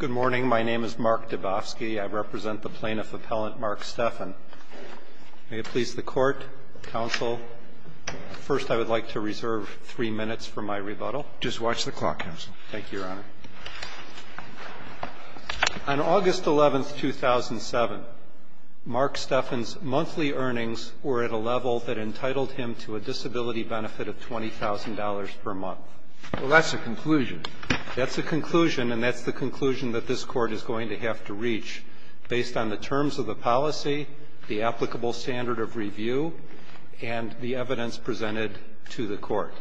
Good morning. My name is Mark Dabofsky. I represent the Plaintiff Appellant Mark Stephan. May it please the Court, Counsel, first I would like to reserve three minutes for my rebuttal. Just watch the clock, Counsel. Thank you, Your Honor. On August 11, 2007, Mark Stephan's monthly earnings were at a level that entitled him to a disability benefit of $20,000 per month. Well, that's a conclusion. That's a conclusion, and that's the conclusion that this Court is going to have to reach, based on the terms of the policy, the applicable standard of review, and the evidence presented to the Court.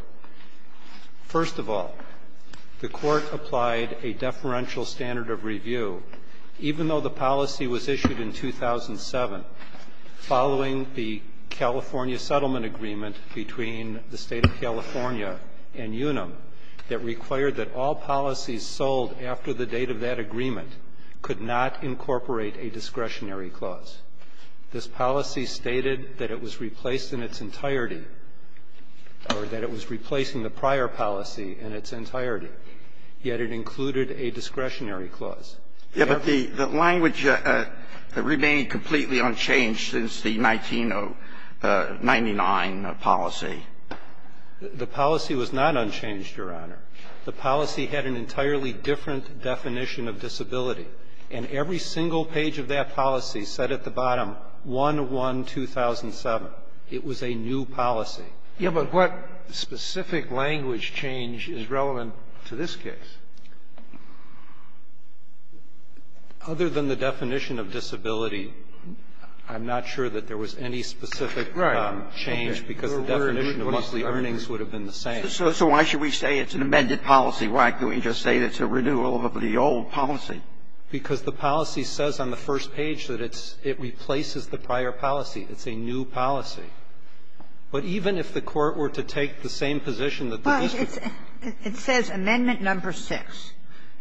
First of all, the Court applied a deferential standard of review, even though the policy was issued in 2007, following the California settlement agreement between the State of California and Unum that required that all policies sold after the date of that agreement could not incorporate a discretionary clause. This policy stated that it was replaced in its entirety, or that it was replacing the prior policy in its entirety, yet it included a discretionary clause. Yes, but the language remained completely unchanged since the 1999 policy. The policy was not unchanged, Your Honor. The policy had an entirely different definition of disability. And every single page of that policy said at the bottom, 1-1-2007. It was a new policy. Yes, but what specific language change is relevant to this case? Other than the definition of disability, I'm not sure that there was any specific change, because the definition of monthly earnings would have been the same. So why should we say it's an amended policy? Why can't we just say it's a renewal of the old policy? Because the policy says on the first page that it's – it replaces the prior policy. It's a new policy. But even if the Court were to take the same position that the district was in, it's a new policy. It says amendment number 6.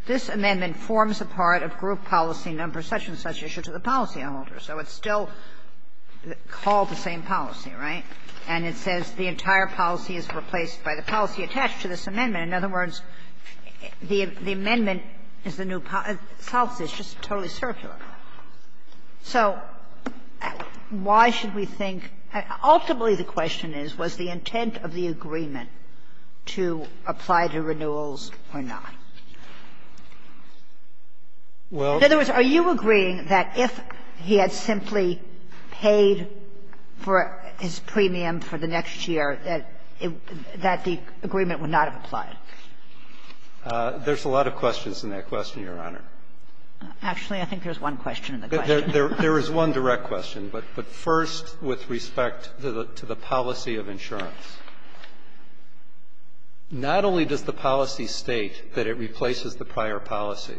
This amendment forms a part of group policy number such and such issue to the policy holder. So it's still called the same policy, right? And it says the entire policy is replaced by the policy attached to this amendment. In other words, the amendment is the new policy. It's just totally circular. So why should we think – ultimately, the question is, was the intent of the agreement to apply to renewals or not? In other words, are you agreeing that if he had simply paid for his premium for the next year, that the agreement would not have applied? There's a lot of questions in that question, Your Honor. Actually, I think there's one question in the question. There is one direct question, but first with respect to the policy of insurance. Not only does the policy state that it replaces the prior policy,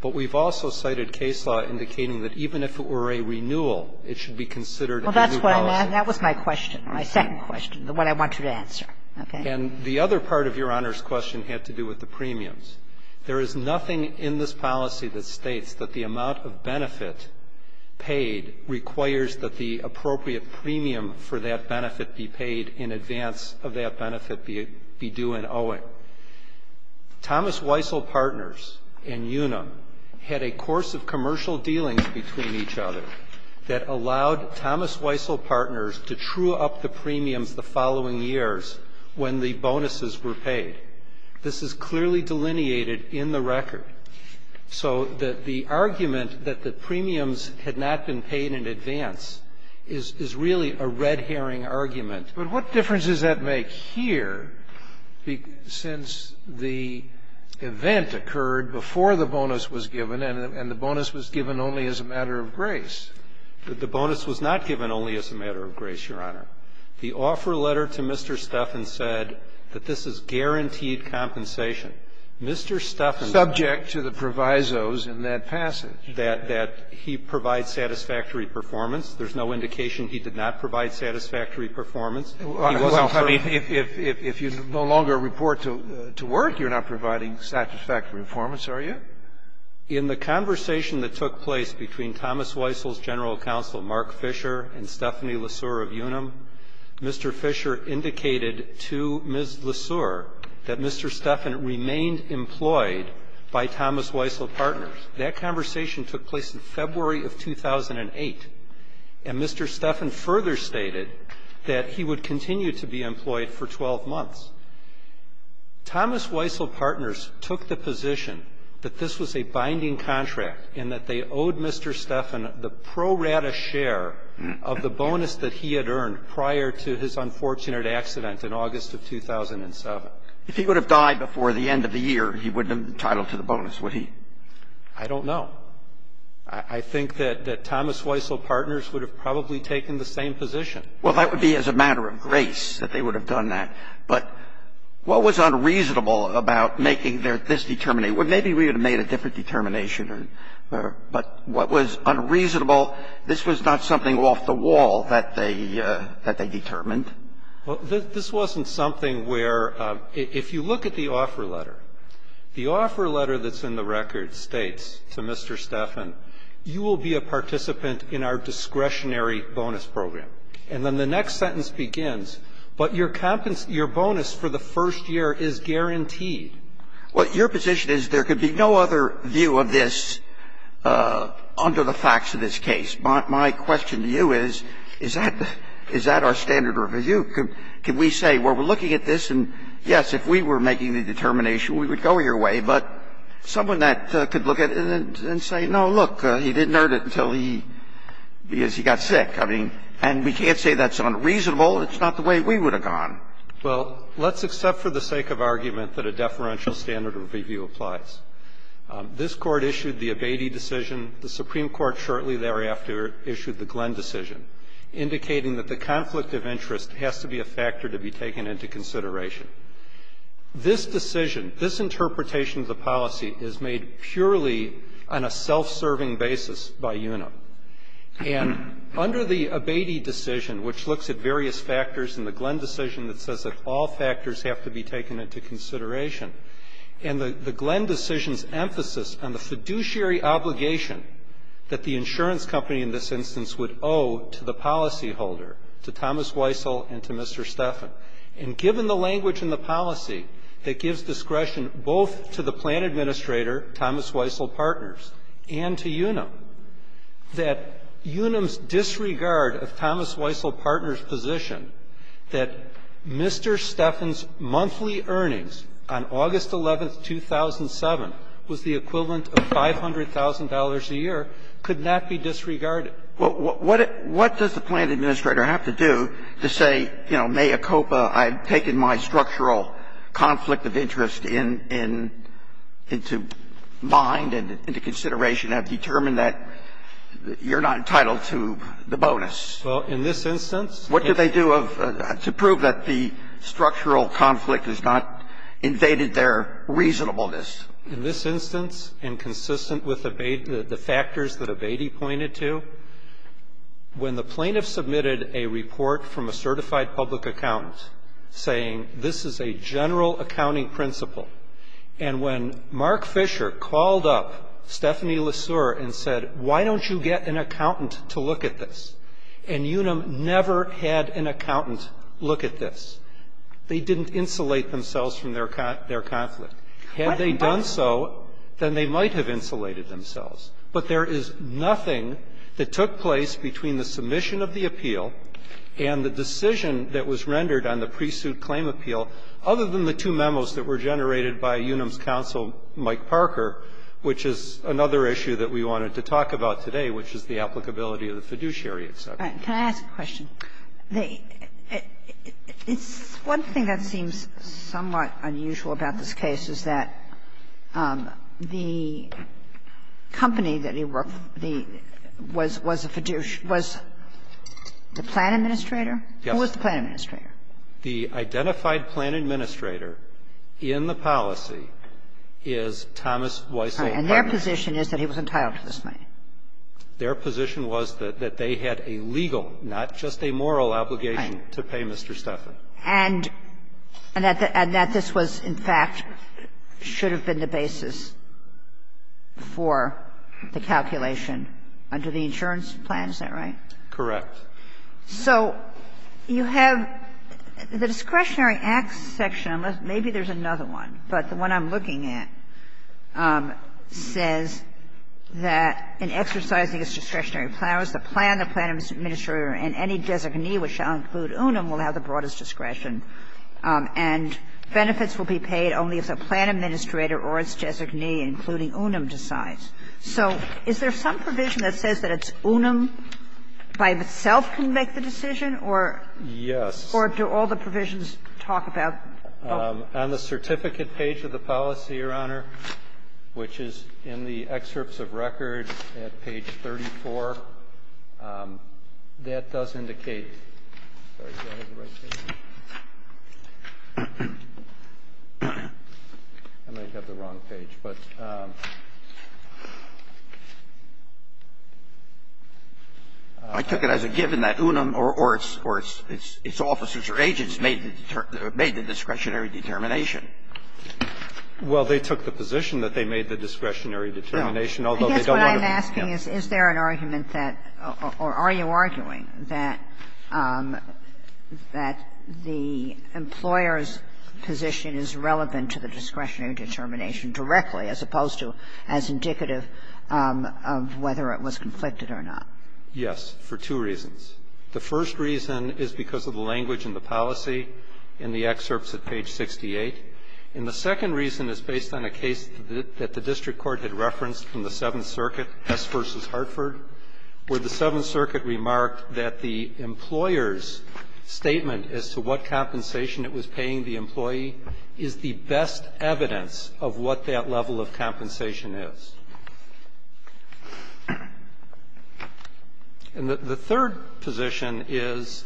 but we've also cited case law indicating that even if it were a renewal, it should be considered a new policy. Well, that's what I'm asking. That was my question, my second question, the one I want you to answer. Okay? And the other part of Your Honor's question had to do with the premiums. There is nothing in this policy that states that the amount of benefit paid requires that the appropriate premium for that benefit be paid in advance of that benefit be due in owing. Thomas Weissel Partners and Unum had a course of commercial dealings between each other that allowed Thomas Weissel Partners to true up the premiums the following years when the bonuses were paid. This is clearly delineated in the record. So the argument that the premiums had not been paid in advance is really a red herring argument. But what difference does that make here since the event occurred before the bonus was given, and the bonus was given only as a matter of grace? The bonus was not given only as a matter of grace, Your Honor. The offer letter to Mr. Stefan said that this is guaranteed compensation. Mr. Stefan's --- I object to the provisos in that passage. That he provides satisfactory performance. There's no indication he did not provide satisfactory performance. He wasn't free. If you no longer report to work, you're not providing satisfactory performance, are you? In the conversation that took place between Thomas Weissel's general counsel, Mark Fisher, and Stephanie Lesur of Unum, Mr. Fisher indicated to Ms. Lesur that Mr. Stefan remained employed by Thomas Weissel Partners. That conversation took place in February of 2008, and Mr. Stefan further stated that he would continue to be employed for 12 months. Thomas Weissel Partners took the position that this was a binding contract and that they owed Mr. Stefan the pro rata share of the bonus that he had earned prior to his unfortunate accident in August of 2007. If he would have died before the end of the year, he wouldn't have been entitled to the bonus, would he? I don't know. I think that Thomas Weissel Partners would have probably taken the same position. Well, that would be as a matter of grace that they would have done that. But what was unreasonable about making this determination? Well, maybe we would have made a different determination, but what was unreasonable this was not something off the wall that they determined. Well, this wasn't something where if you look at the offer letter, the offer letter that's in the record states to Mr. Stefan, you will be a participant in our discretionary bonus program. And then the next sentence begins, but your bonus for the first year is guaranteed. Well, your position is there could be no other view of this under the facts of this case. My question to you is, is that our standard of review? Can we say, well, we're looking at this and, yes, if we were making the determination, we would go your way. But someone that could look at it and say, no, look, he didn't earn it until he got sick. I mean, and we can't say that's unreasonable. It's not the way we would have gone. Well, let's accept for the sake of argument that a deferential standard of review applies. This Court issued the Abatey decision. The Supreme Court shortly thereafter issued the Glenn decision, indicating that the conflict of interest has to be a factor to be taken into consideration. This decision, this interpretation of the policy is made purely on a self-serving basis by UNA. And under the Abatey decision, which looks at various factors in the Glenn decision that says that all factors have to be taken into consideration, and the Glenn decision emphasizes on the fiduciary obligation that the insurance company in this instance would owe to the policyholder, to Thomas Weissel and to Mr. Steffen. And given the language in the policy that gives discretion both to the plan administrator, Thomas Weissel Partners, and to UNAM, that UNAM's disregard of Thomas Weissel Partners' position that Mr. Steffen's monthly earnings on August 11th, 2007, would not be And the fact that the plan administrator's monthly earnings on August 11th, 2007, was the equivalent of $500,000 a year, could not be disregarded. What does the plan administrator have to do to say, you know, mea copa, I've taken my structural conflict of interest in into mind and into consideration, and I've determined that you're not entitled to the bonus? Well, in this instance, it's not. It's true that the structural conflict has not invaded their reasonableness. In this instance, and consistent with the factors that Abatey pointed to, when the plaintiff submitted a report from a certified public accountant, saying this is a general accounting principle, and when Mark Fisher called up Stephanie Lesur and said, why don't you get an accountant to look at this? And Unum never had an accountant look at this. They didn't insulate themselves from their conflict. Had they done so, then they might have insulated themselves. But there is nothing that took place between the submission of the appeal and the decision that was rendered on the pre-suit claim appeal, other than the two memos that were generated by Unum's counsel, Mike Parker, which is another issue that we wanted to talk about today, which is the applicability of the fiduciary exception. Can I ask a question? The one thing that seems somewhat unusual about this case is that the company that he worked for, the was a fiduciary, was the plan administrator? Yes. Who was the plan administrator? The identified plan administrator in the policy is Thomas Weissel. And their position is that he was entitled to this money. Their position was that they had a legal, not just a moral, obligation to pay Mr. Stephan. And that this was, in fact, should have been the basis for the calculation under the insurance plan, is that right? Correct. So you have the discretionary acts section, maybe there's another one, but the one I'm looking at says that in exercising its discretionary powers, the plan, the plan administrator, and any designee which shall include Unum will have the broadest discretion, and benefits will be paid only if the plan administrator or its designee, including Unum, decides. So is there some provision that says that it's Unum by itself can make the decision, or do all the provisions talk about? On the certificate page of the policy, Your Honor, which is in the excerpts of record at page 34, that does indicate, sorry, did I have the right page? I might have the wrong page, but I took it as a given that Unum or its officers or agents made the discretionary determination. Well, they took the position that they made the discretionary determination, although they don't want to be. I guess what I'm asking is, is there an argument that or are you arguing that the employer's position is relevant to the discretionary determination directly, as opposed to as indicative of whether it was conflicted or not? Yes, for two reasons. The first reason is because of the language in the policy in the excerpts at page 68, and the second reason is based on a case that the district court had referenced from the Seventh Circuit, Hess v. Hartford, where the Seventh Circuit remarked that the employer's statement as to what compensation it was paying the employee is the best evidence of what that level of compensation is. And the third position is,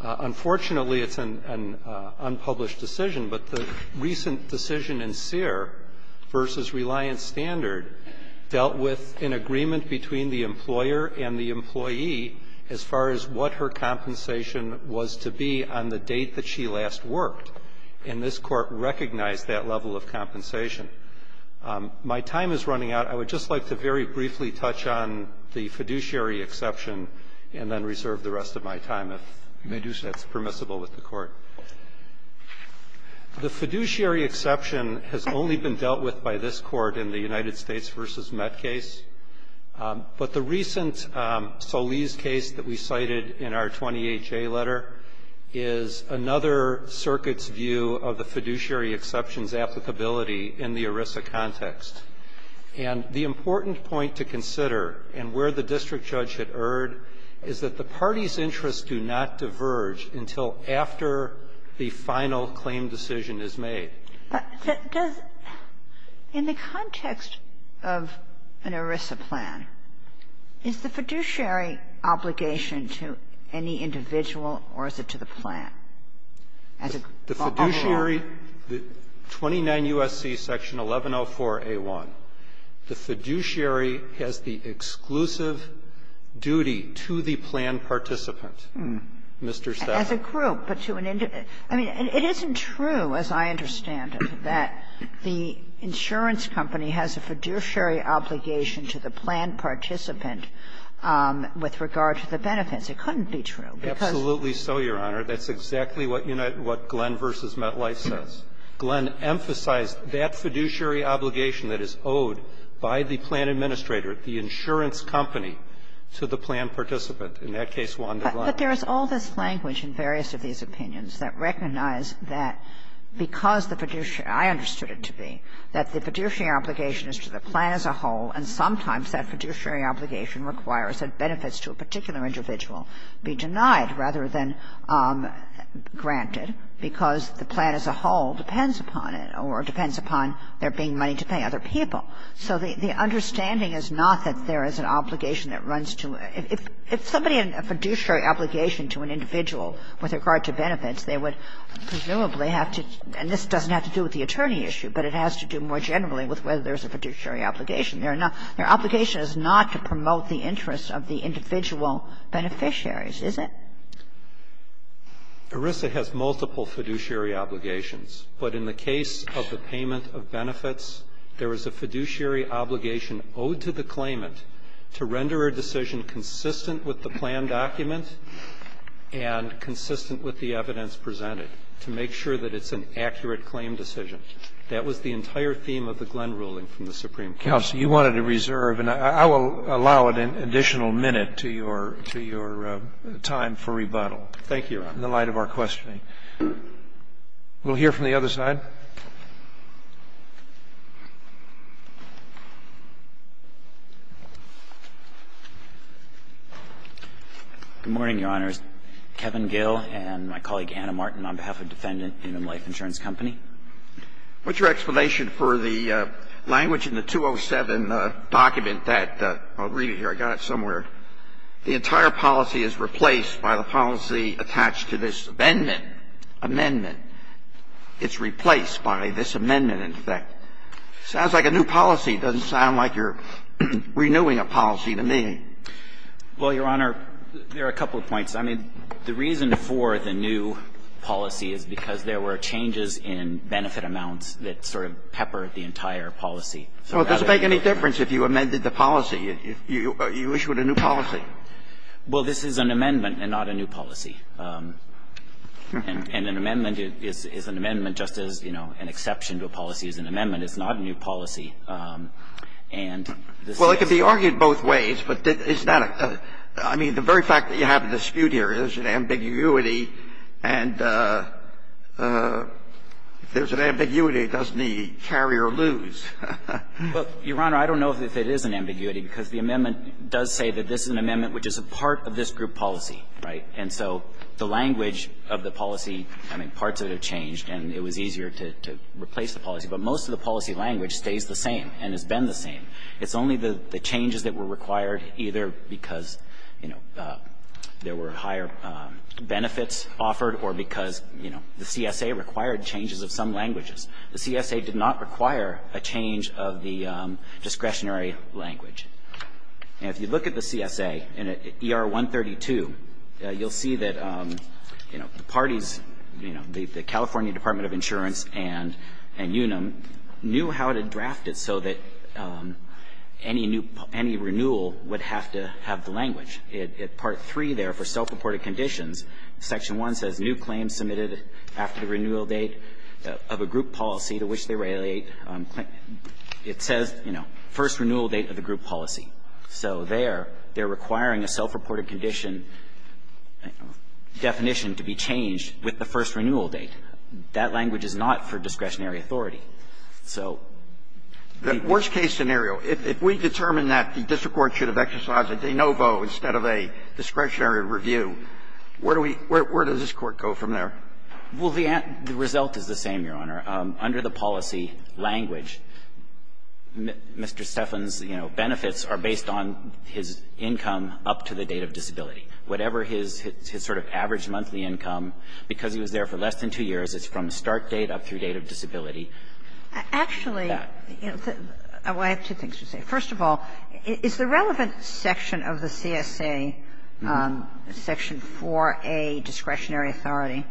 unfortunately, it's an unpublished decision, but the recent decision in Sear v. Reliance Standard dealt with an agreement between the employer and the employee as far as what her compensation was to be on the date that she last worked, and this Court recognized that level of compensation. My time is running out. I would just like to very briefly touch on the fiduciary exception and then reserve the rest of my time if that's permissible with the Court. The fiduciary exception has only been dealt with by this Court in the United States v. Met case, but the recent Solis case that we cited in our 20HA letter is another circuit's view of the fiduciary exception's applicability in the United States v. Met case. It's a very different view of the Arisa context, and the important point to consider and where the district judge had erred is that the party's interests do not diverge until after the final claim decision is made. But does the context of an Arisa plan, is the fiduciary obligation to any individual or is it to the plan? As a follow-up. The fiduciary, 29 U.S.C. section 1104a1, the fiduciary has the exclusive duty to the plan participant, Mr. Stafford. As a group, but to an individual. I mean, it isn't true, as I understand it, that the insurance company has a fiduciary obligation to the plan participant with regard to the benefits. to the plan participant with regard to the benefits. It couldn't be true, because the insurance company has a fiduciary obligation That's exactly what Glenn v. Metlife says. Glenn emphasized that fiduciary obligation that is owed by the plan administrator, the insurance company, to the plan participant. In that case, Wanda Glenn. But there is all this language in various of these opinions that recognize that because the fiduciary — I understood it to be that the fiduciary obligation is to the plan as a whole and sometimes that fiduciary obligation requires that benefits to a particular individual be denied rather than granted because the plan as a whole depends upon it or depends upon there being money to pay other people. So the understanding is not that there is an obligation that runs to — if somebody had a fiduciary obligation to an individual with regard to benefits, they would presumably have to — and this doesn't have to do with the attorney issue, but it has to do more generally with whether there's a fiduciary obligation. There are not — their obligation is not to promote the interests of the individual beneficiaries, is it? Erisa has multiple fiduciary obligations, but in the case of the payment of benefits, there is a fiduciary obligation owed to the claimant to render a decision consistent with the plan document and consistent with the evidence presented to make sure that it's an accurate claim decision. Thank you, counsel. You wanted to reserve, and I will allow an additional minute to your time for rebuttal. Thank you, Your Honor. In the light of our questioning. We'll hear from the other side. Good morning, Your Honors. Kevin Gill and my colleague, Anna Martin, on behalf of Defendant Human Life Insurance Company. What's your explanation for the language in the 207 document that — I'll read it here. I got it somewhere. The entire policy is replaced by the policy attached to this amendment. Amendment. It's replaced by this amendment, in effect. Sounds like a new policy. It doesn't sound like you're renewing a policy to me. Well, Your Honor, there are a couple of points. I mean, the reason for the new policy is because there were changes in benefit amounts that sort of peppered the entire policy. So does it make any difference if you amended the policy? You issued a new policy. Well, this is an amendment and not a new policy. And an amendment is an amendment just as, you know, an exception to a policy is an It's not a new policy. And this is an exception. Well, it could be argued both ways, but it's not a — I mean, the very fact that we have a dispute here is an ambiguity, and if there's an ambiguity, doesn't the carrier lose? Well, Your Honor, I don't know if it is an ambiguity, because the amendment does say that this is an amendment which is a part of this group policy, right? And so the language of the policy, I mean, parts of it have changed, and it was easier to replace the policy. But most of the policy language stays the same and has been the same. It's only the changes that were required, either because, you know, there were higher benefits offered or because, you know, the CSA required changes of some languages. The CSA did not require a change of the discretionary language. And if you look at the CSA in ER 132, you'll see that, you know, the parties, you know, the California Department of Insurance and UNAM knew how to draft it so that any renewal would have to have the language. In Part 3 there, for self-reported conditions, Section 1 says, New claims submitted after the renewal date of a group policy to which they relate claim to. It says, you know, first renewal date of the group policy. So there, they're requiring a self-reported condition definition to be changed with the first renewal date. That language is not for discretionary authority. So the worst-case scenario, if we determine that the district court should have exercised a de novo instead of a discretionary review, where do we – where does this Court go from there? Well, the result is the same, Your Honor. Under the policy language, Mr. Steffan's, you know, benefits are based on his income up to the date of disability. Whatever his sort of average monthly income, because he was there for less than two years, it's from start date up through date of disability. Actually, you know, I have two things to say. First of all, is the relevant section of the CSA, Section 4a, discretionary authority,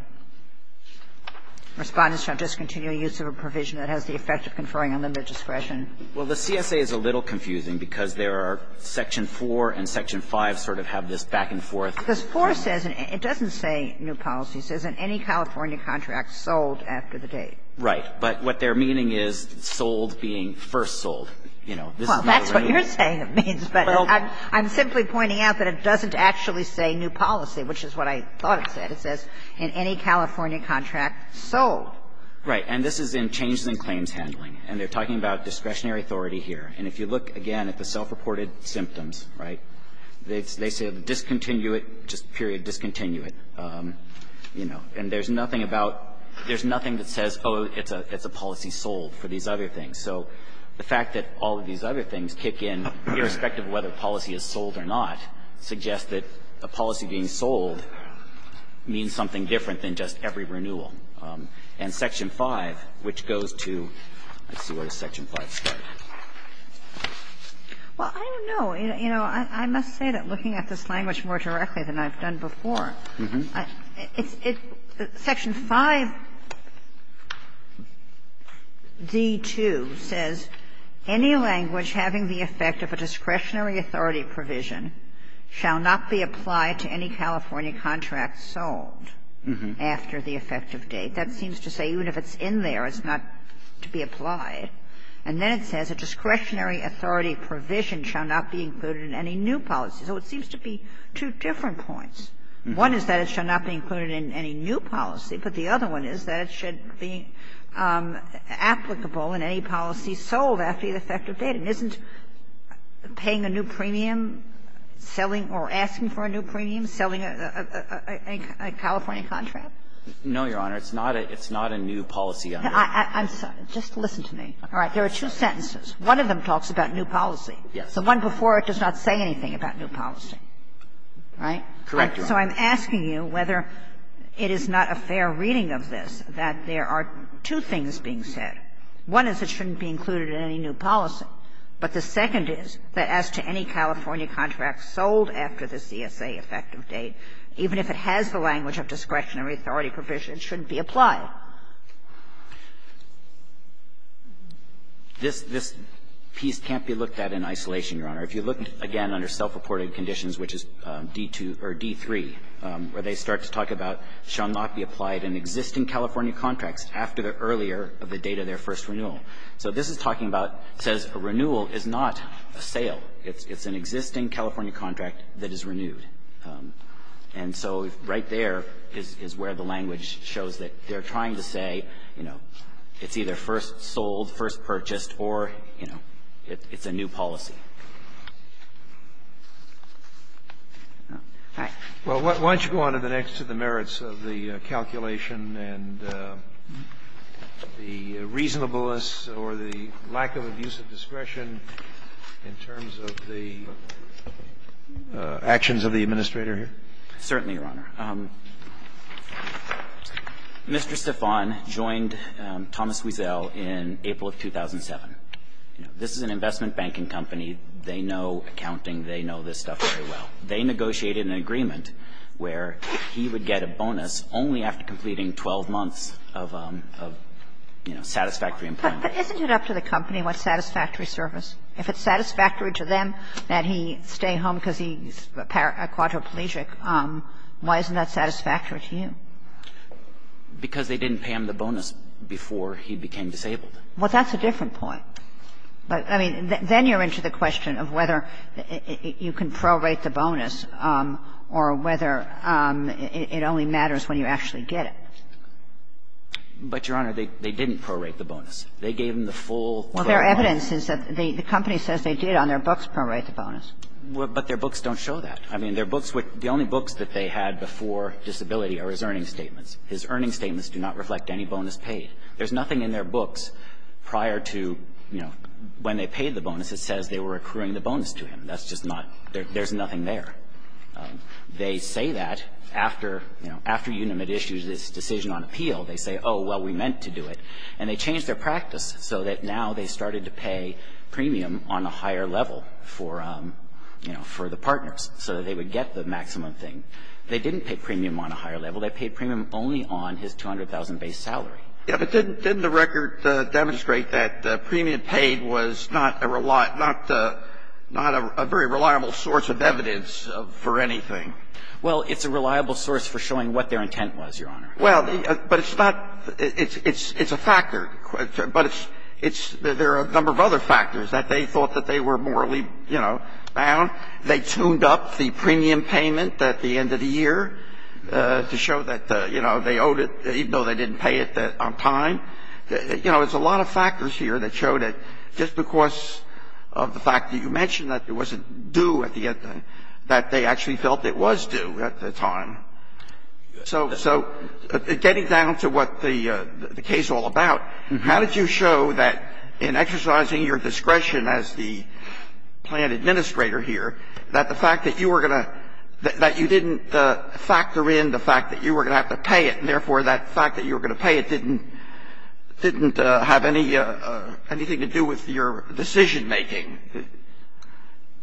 Respondents shall discontinue use of a provision that has the effect of conferring unlimited discretion? Well, the CSA is a little confusing because there are Section 4 and Section 5 sort of have this back and forth. Because 4 says, it doesn't say new policy, it says in any California contract sold after the date. Right. But what they're meaning is sold being first sold. You know, this is not a raise. Well, that's what you're saying it means, but I'm simply pointing out that it doesn't actually say new policy, which is what I thought it said. It says in any California contract sold. Right. And this is in changes in claims handling. And they're talking about discretionary authority here. And if you look, again, at the self-reported symptoms, right, they say discontinue it, just period, discontinue it, you know. And there's nothing about – there's nothing that says, oh, it's a policy sold for these other things. So the fact that all of these other things kick in, irrespective of whether a policy is sold or not, suggests that a policy being sold means something different than just every renewal. And Section 5, which goes to – let's see, where does Section 5 start? Well, I don't know. You know, I must say that looking at this language more directly than I've done before, it's – Section 5d)(2 says, any language having the effect of a discretionary authority provision shall not be applied to any California contract sold after the effective date. That seems to say even if it's in there, it's not to be applied. And then it says, a discretionary authority provision shall not be included in any new policy. So it seems to be two different points. One is that it shall not be included in any new policy, but the other one is that it should be applicable in any policy sold after the effective date. And isn't paying a new premium, selling or asking for a new premium, selling a California contract? No, Your Honor. It's not a new policy under it. I'm sorry. Just listen to me. All right. There are two sentences. One of them talks about new policy. Yes. The one before it does not say anything about new policy. Right? Correct, Your Honor. So I'm asking you whether it is not a fair reading of this that there are two things being said. One is it shouldn't be included in any new policy, but the second is that as to any California contract sold after the CSA effective date, even if it has the language of discretionary authority provision, it shouldn't be applied. Now, this piece can't be looked at in isolation, Your Honor. If you look, again, under self-reported conditions, which is D2 or D3, where they start to talk about shall not be applied in existing California contracts after the earlier of the date of their first renewal. So this is talking about, says a renewal is not a sale. It's an existing California contract that is renewed. And so right there is where the language shows that they're trying to say, you know, it's either first sold, first purchased, or, you know, it's a new policy. All right. Well, why don't you go on to the next to the merits of the calculation and the reasonableness or the lack of abuse of discretion in terms of the actions of the Administrator here? Certainly, Your Honor. Mr. Stefan joined Thomas Wiesel in April of 2007. This is an investment banking company. They know accounting. They know this stuff very well. They negotiated an agreement where he would get a bonus only after completing 12 months of, you know, satisfactory employment. But isn't it up to the company what satisfactory service? If it's satisfactory to them that he stay home because he's a quadriplegic, why isn't that satisfactory to you? Because they didn't pay him the bonus before he became disabled. Well, that's a different point. But, I mean, then you're into the question of whether you can prorate the bonus or whether it only matters when you actually get it. But, Your Honor, they didn't prorate the bonus. They gave him the full 12 months. Well, their evidence is that the company says they did on their books prorate the bonus. But their books don't show that. I mean, their books with the only books that they had before disability are his earning statements. His earning statements do not reflect any bonus paid. There's nothing in their books prior to, you know, when they paid the bonus that says they were accruing the bonus to him. That's just not there. There's nothing there. They say that after, you know, after Unamed issues this decision on appeal. They say, oh, well, we meant to do it. And they changed their practice so that now they started to pay premium on a higher level for, you know, for the partners so that they would get the maximum thing. They didn't pay premium on a higher level. They paid premium only on his $200,000 base salary. Yeah, but didn't the record demonstrate that premium paid was not a very reliable source of evidence for anything? Well, it's a reliable source for showing what their intent was, Your Honor. Well, but it's not – it's a factor. But it's – there are a number of other factors that they thought that they were morally, you know, bound. They tuned up the premium payment at the end of the year to show that, you know, they owed it, even though they didn't pay it on time. You know, there's a lot of factors here that showed that just because of the fact that you mentioned that it wasn't due at the end, that they actually felt it was due at the time. So getting down to what the case is all about, how did you show that in exercising your discretion as the plan administrator here, that the fact that you were going to – that you didn't factor in the fact that you were going to have to pay it, and therefore, that fact that you were going to pay it didn't have anything to do with your decision-making?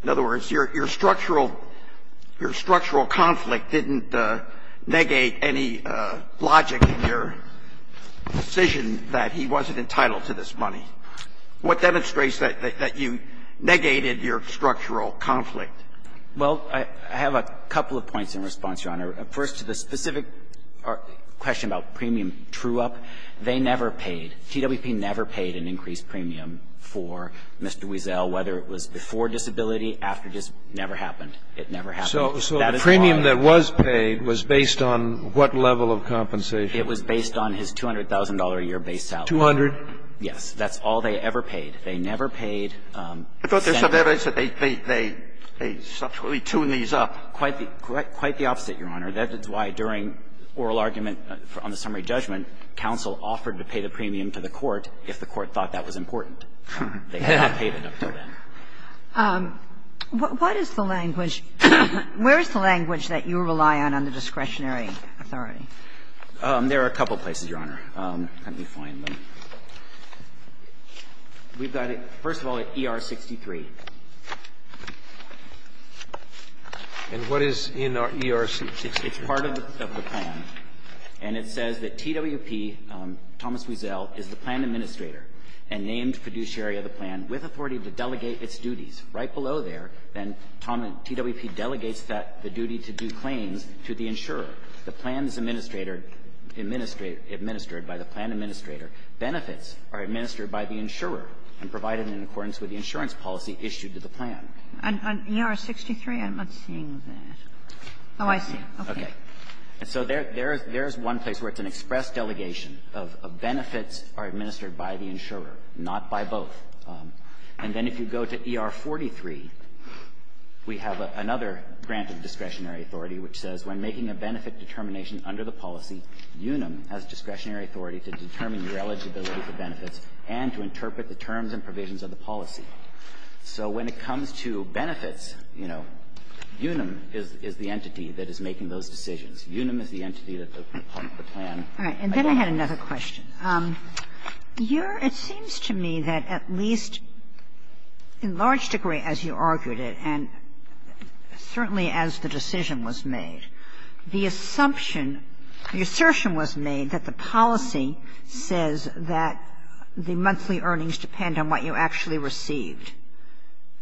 In other words, your structural – your structural conflict didn't negate any logic in your decision that he wasn't entitled to this money. What demonstrates that you negated your structural conflict? Well, I have a couple of points in response, Your Honor. First, to the specific question about premium true-up, they never paid – TWP never paid an increased premium for Mr. Wiesel, whether it was before disability, after – never happened. It never happened. So the premium that was paid was based on what level of compensation? It was based on his $200,000-a-year base salary. Two hundred? Yes. That's all they ever paid. They never paid cents. I thought they said they subtly tuned these up. Quite the opposite, Your Honor. That is why during oral argument on the summary judgment, counsel offered to pay the $200,000, and the court thought that was important. They had not paid it up until then. What is the language – where is the language that you rely on under discretionary authority? There are a couple places, Your Honor. Let me find them. We've got it, first of all, at ER-63. And what is in ER-63? It's part of the plan, and it says that TWP, Thomas Wiesel, is the plan administrator. And named fiduciary of the plan with authority to delegate its duties. Right below there, then, TWP delegates that – the duty to do claims to the insurer. The plan is administrated – administered by the plan administrator. Benefits are administered by the insurer and provided in accordance with the insurance policy issued to the plan. On ER-63, I'm not seeing that. Oh, I see. Okay. And so there is one place where it's an express delegation of benefits are administered by the insurer, not by both. And then if you go to ER-43, we have another grant of discretionary authority which says, when making a benefit determination under the policy, UNAM has discretionary authority to determine your eligibility for benefits and to interpret the terms and provisions of the policy. So when it comes to benefits, you know, UNAM is the entity that is making those decisions. UNAM is the entity that the plan – All right. And then I had another question. Your – it seems to me that at least in large degree, as you argued it, and certainly as the decision was made, the assumption – the assertion was made that the policy says that the monthly earnings depend on what you actually received.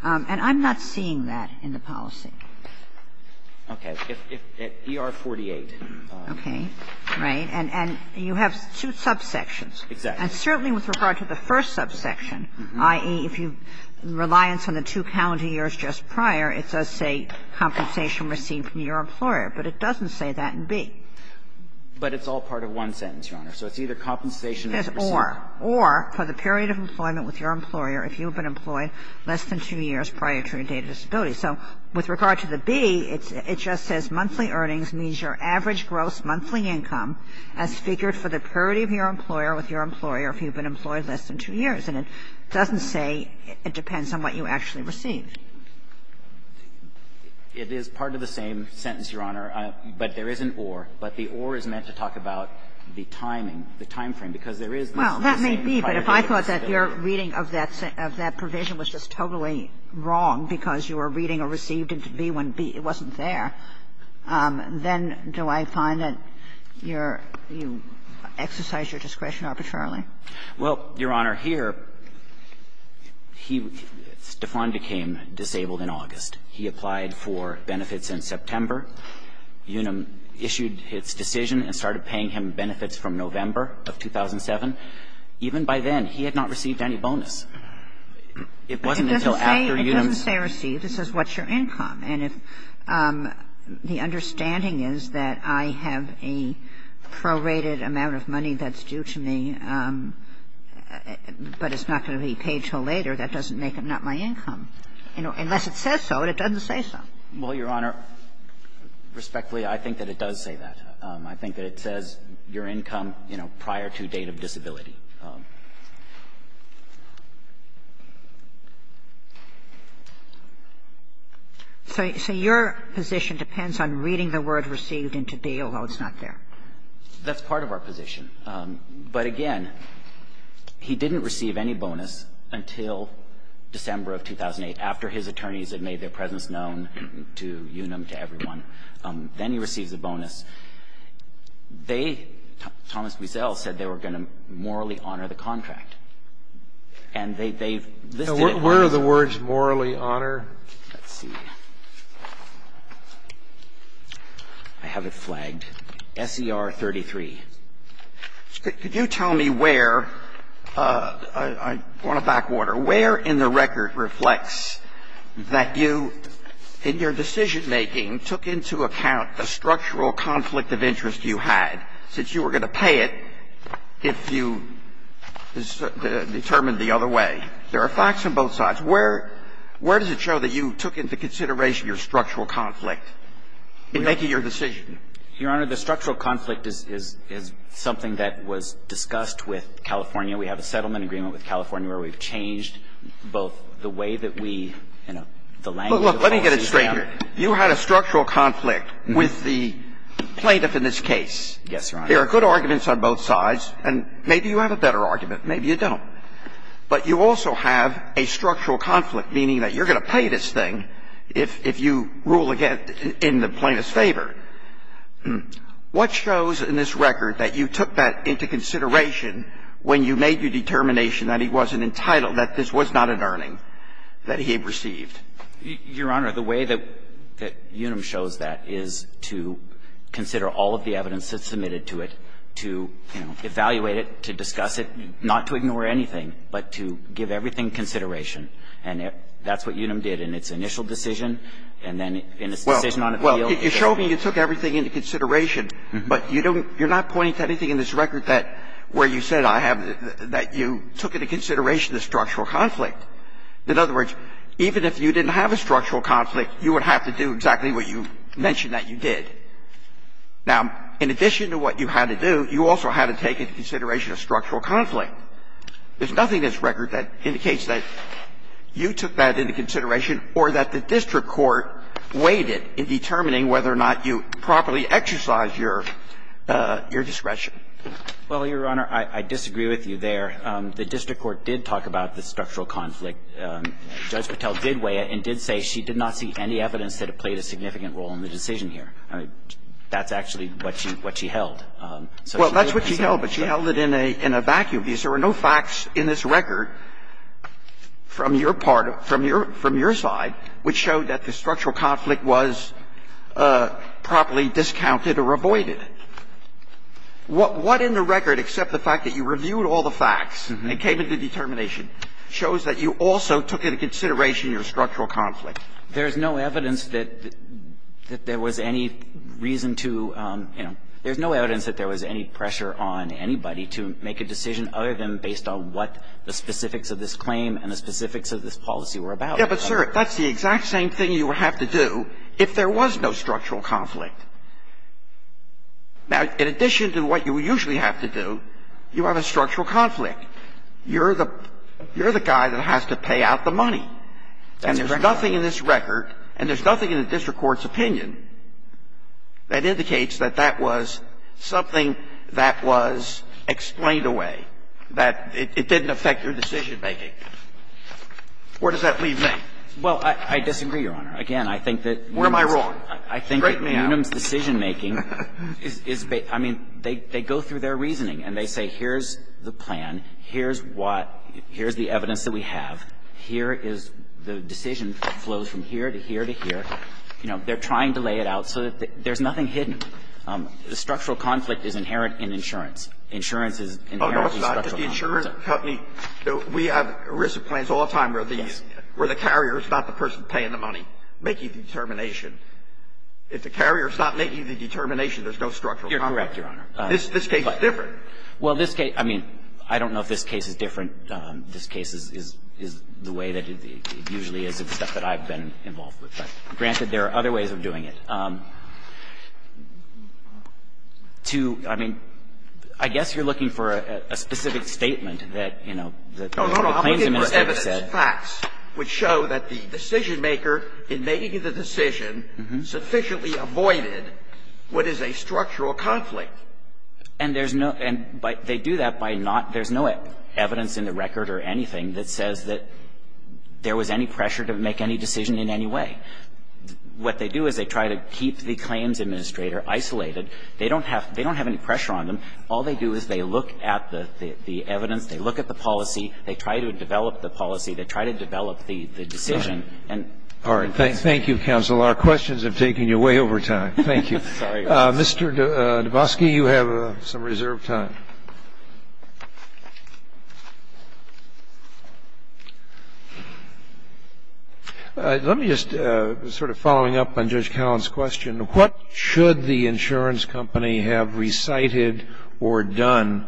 And I'm not seeing that in the policy. Okay. If – if ER-48. Okay. Right. And you have two subsections. Exactly. And certainly with regard to the first subsection, i.e., if you – reliance on the two calendar years just prior, it does say compensation received from your employer, but it doesn't say that in B. But it's all part of one sentence, Your Honor. So it's either compensation as received or the period of employment with your employer if you have been employed less than two years prior to your date of disability. So with regard to the B, it just says monthly earnings means your average gross monthly income as figured for the period of your employer with your employer if you have been employed less than two years, and it doesn't say it depends on what you actually received. It is part of the same sentence, Your Honor, but there is an or. But the or is meant to talk about the timing, the time frame, because there is not the same prior date of disability. Well, that may be, but if I thought that your reading of that provision was just totally wrong because you were reading a received into B when B wasn't there, then do I find that you're you exercise your discretion arbitrarily? Well, Your Honor, here, he Stefan became disabled in August. He applied for benefits in September. Unum issued his decision and started paying him benefits from November of 2007. Even by then, he had not received any bonus. It wasn't until after Unum's. It doesn't say received. It says what's your income. And if the understanding is that I have a prorated amount of money that's due to me, but it's not going to be paid until later, that doesn't make it not my income. Unless it says so, it doesn't say so. Well, Your Honor, respectfully, I think that it does say that. I think that it says your income, you know, prior to date of disability. So your position depends on reading the word received into B, although it's not there. That's part of our position. But again, he didn't receive any bonus until December of 2008, after his attorneys had made their presence known to Unum, to everyone. Then he receives a bonus. They, Thomas Wiesel, said they were going to morally honor the contract. And they've listed it. Now, where are the words morally honor? Let's see. I have it flagged, S.E.R. 33. Could you tell me where, I want to back water, where in the record reflects that you, in your decision-making, took into account the structural conflict of interest you had since you were going to pay it if you determined the other way? There are facts on both sides. Where does it show that you took into consideration your structural conflict in making your decision? Your Honor, the structural conflict is something that was discussed with California. We have a settlement agreement with California where we've changed both the way that we, you know, the language of the lawsuit. But look, let me get it straight here. You had a structural conflict with the plaintiff in this case. Yes, Your Honor. There are good arguments on both sides, and maybe you have a better argument. Maybe you don't. But you also have a structural conflict, meaning that you're going to pay this thing if you rule again in the plaintiff's favor. What shows in this record that you took that into consideration when you made your determination that he wasn't entitled, that this was not an earning that he had received? Your Honor, the way that Unum shows that is to consider all of the evidence that's submitted to it, to, you know, evaluate it, to discuss it, not to ignore anything, but to give everything consideration. And that's what Unum did in its initial decision and then in its decision on appeal. So you're showing that you took everything into consideration. But you don't you're not pointing to anything in this record that where you said I have that you took into consideration the structural conflict. In other words, even if you didn't have a structural conflict, you would have to do exactly what you mentioned that you did. Now, in addition to what you had to do, you also had to take into consideration a structural conflict. There's nothing in this record that indicates that you took that into consideration or that the district court weighed it in determining whether or not you properly exercised your discretion. Well, Your Honor, I disagree with you there. The district court did talk about the structural conflict. Judge Patel did weigh it and did say she did not see any evidence that it played a significant role in the decision here. That's actually what she held. Well, that's what she held, but she held it in a vacuum because there were no facts in this record from your part of, from your, from your side, which showed that the structural conflict was properly discounted or avoided. What in the record, except the fact that you reviewed all the facts and it came into determination, shows that you also took into consideration your structural conflict? There's no evidence that there was any reason to, you know, there's no evidence that there was any pressure on anybody to make a decision other than based on what the specifics of this claim and the specifics of this policy were about. Yeah, but, sir, that's the exact same thing you would have to do if there was no structural conflict. Now, in addition to what you usually have to do, you have a structural conflict. You're the, you're the guy that has to pay out the money. And there's nothing in this record, and there's nothing in the district court's opinion, that indicates that that was something that was explained away, that it didn't affect your decision-making. Where does that leave me? Well, I disagree, Your Honor. Again, I think that Munim's decision-making is, I mean, they go through their reasoning and they say, here's the plan, here's what, here's the evidence that we have, here is the decision that flows from here to here to here, you know, they're trying to lay it out so that there's nothing hidden. The structural conflict is inherent in insurance. Insurance is inherently structural conflict. Oh, no, it's not, because the insurance company, we have risk plans all the time where the carrier is not the person paying the money, making the determination. If the carrier is not making the determination, there's no structural conflict. You're correct, Your Honor. This case is different. Well, this case, I mean, I don't know if this case is different. This case is the way that it usually is except that I've been involved with it. Granted, there are other ways of doing it. To, I mean, I guess you're looking for a specific statement that, you know, the claims Oh, no, no. I'm looking for evidence, facts, which show that the decision-maker in making the decision sufficiently avoided what is a structural conflict. And there's no – and they do that by not – there's no evidence in the record or anything that says that there was any pressure to make any decision in any way. And what they do is they try to keep the claims administrator isolated. They don't have – they don't have any pressure on them. All they do is they look at the evidence, they look at the policy, they try to develop the policy, they try to develop the decision. All right. Thank you, counsel. Our questions have taken you way over time. Thank you. Mr. Dabowski, you have some reserved time. Let me just, sort of following up on Judge Cowan's question, what should the insurance company have recited or done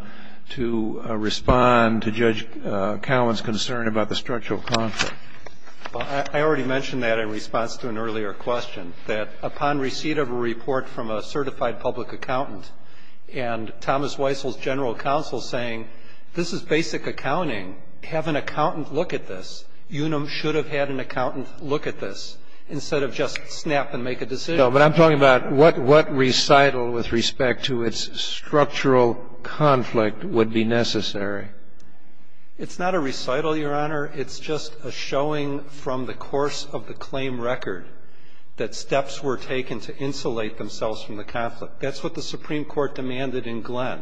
to respond to Judge Cowan's concern about the structural conflict? Well, I already mentioned that in response to an earlier question, that upon receipt of a report from a certified public accountant and Thomas Weissel's judgment and the general counsel saying, this is basic accounting, have an accountant look at this. You should have had an accountant look at this instead of just snap and make a decision. No, but I'm talking about what recital with respect to its structural conflict would be necessary. It's not a recital, Your Honor. It's just a showing from the course of the claim record that steps were taken to insulate themselves from the conflict. That's what the Supreme Court demanded in Glenn.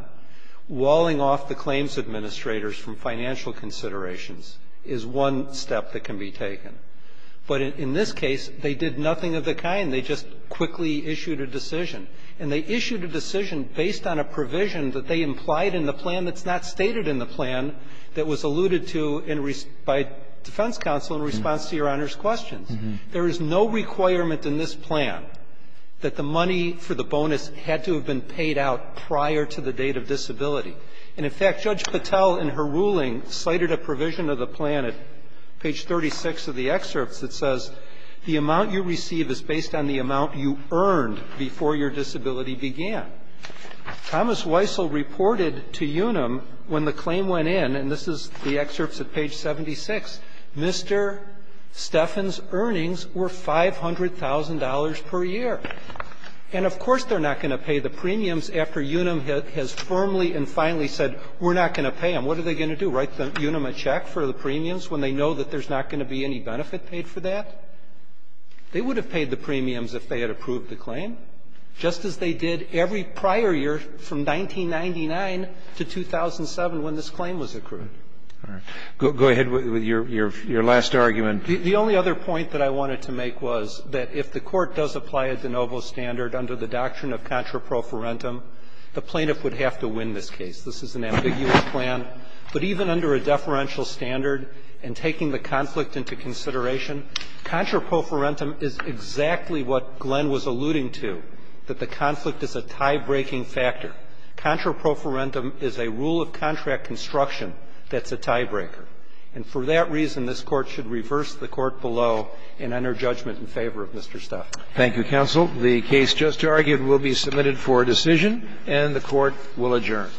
Walling off the claims administrators from financial considerations is one step that can be taken. But in this case, they did nothing of the kind. They just quickly issued a decision. And they issued a decision based on a provision that they implied in the plan that's not stated in the plan that was alluded to by defense counsel in response to Your Honor's questions. There is no requirement in this plan that the money for the bonus had to have been paid out prior to the date of disability. And, in fact, Judge Patel in her ruling cited a provision of the plan at page 36 of the excerpts that says the amount you receive is based on the amount you earned before your disability began. Thomas Weissel reported to UNUM when the claim went in, and this is the excerpts at page 76, Mr. Stephan's earnings were $500,000 per year. And, of course, they're not going to pay the premiums after UNUM has firmly and finally said, we're not going to pay them. What are they going to do, write UNUM a check for the premiums when they know that there's not going to be any benefit paid for that? They would have paid the premiums if they had approved the claim, just as they did every prior year from 1999 to 2007 when this claim was accrued. Go ahead with your last argument. The only other point that I wanted to make was that if the Court does apply a de novo standard under the doctrine of contraprofarentum, the plaintiff would have to win this case. This is an ambiguous plan. But even under a deferential standard and taking the conflict into consideration, contraprofarentum is exactly what Glenn was alluding to, that the conflict is a tie-breaking factor. Contraprofarentum is a rule of contract construction that's a tie-breaker. And for that reason, this Court should reverse the court below and enter judgment in favor of Mr. Stefan. Thank you, counsel. The case just argued will be submitted for decision, and the Court will adjourn.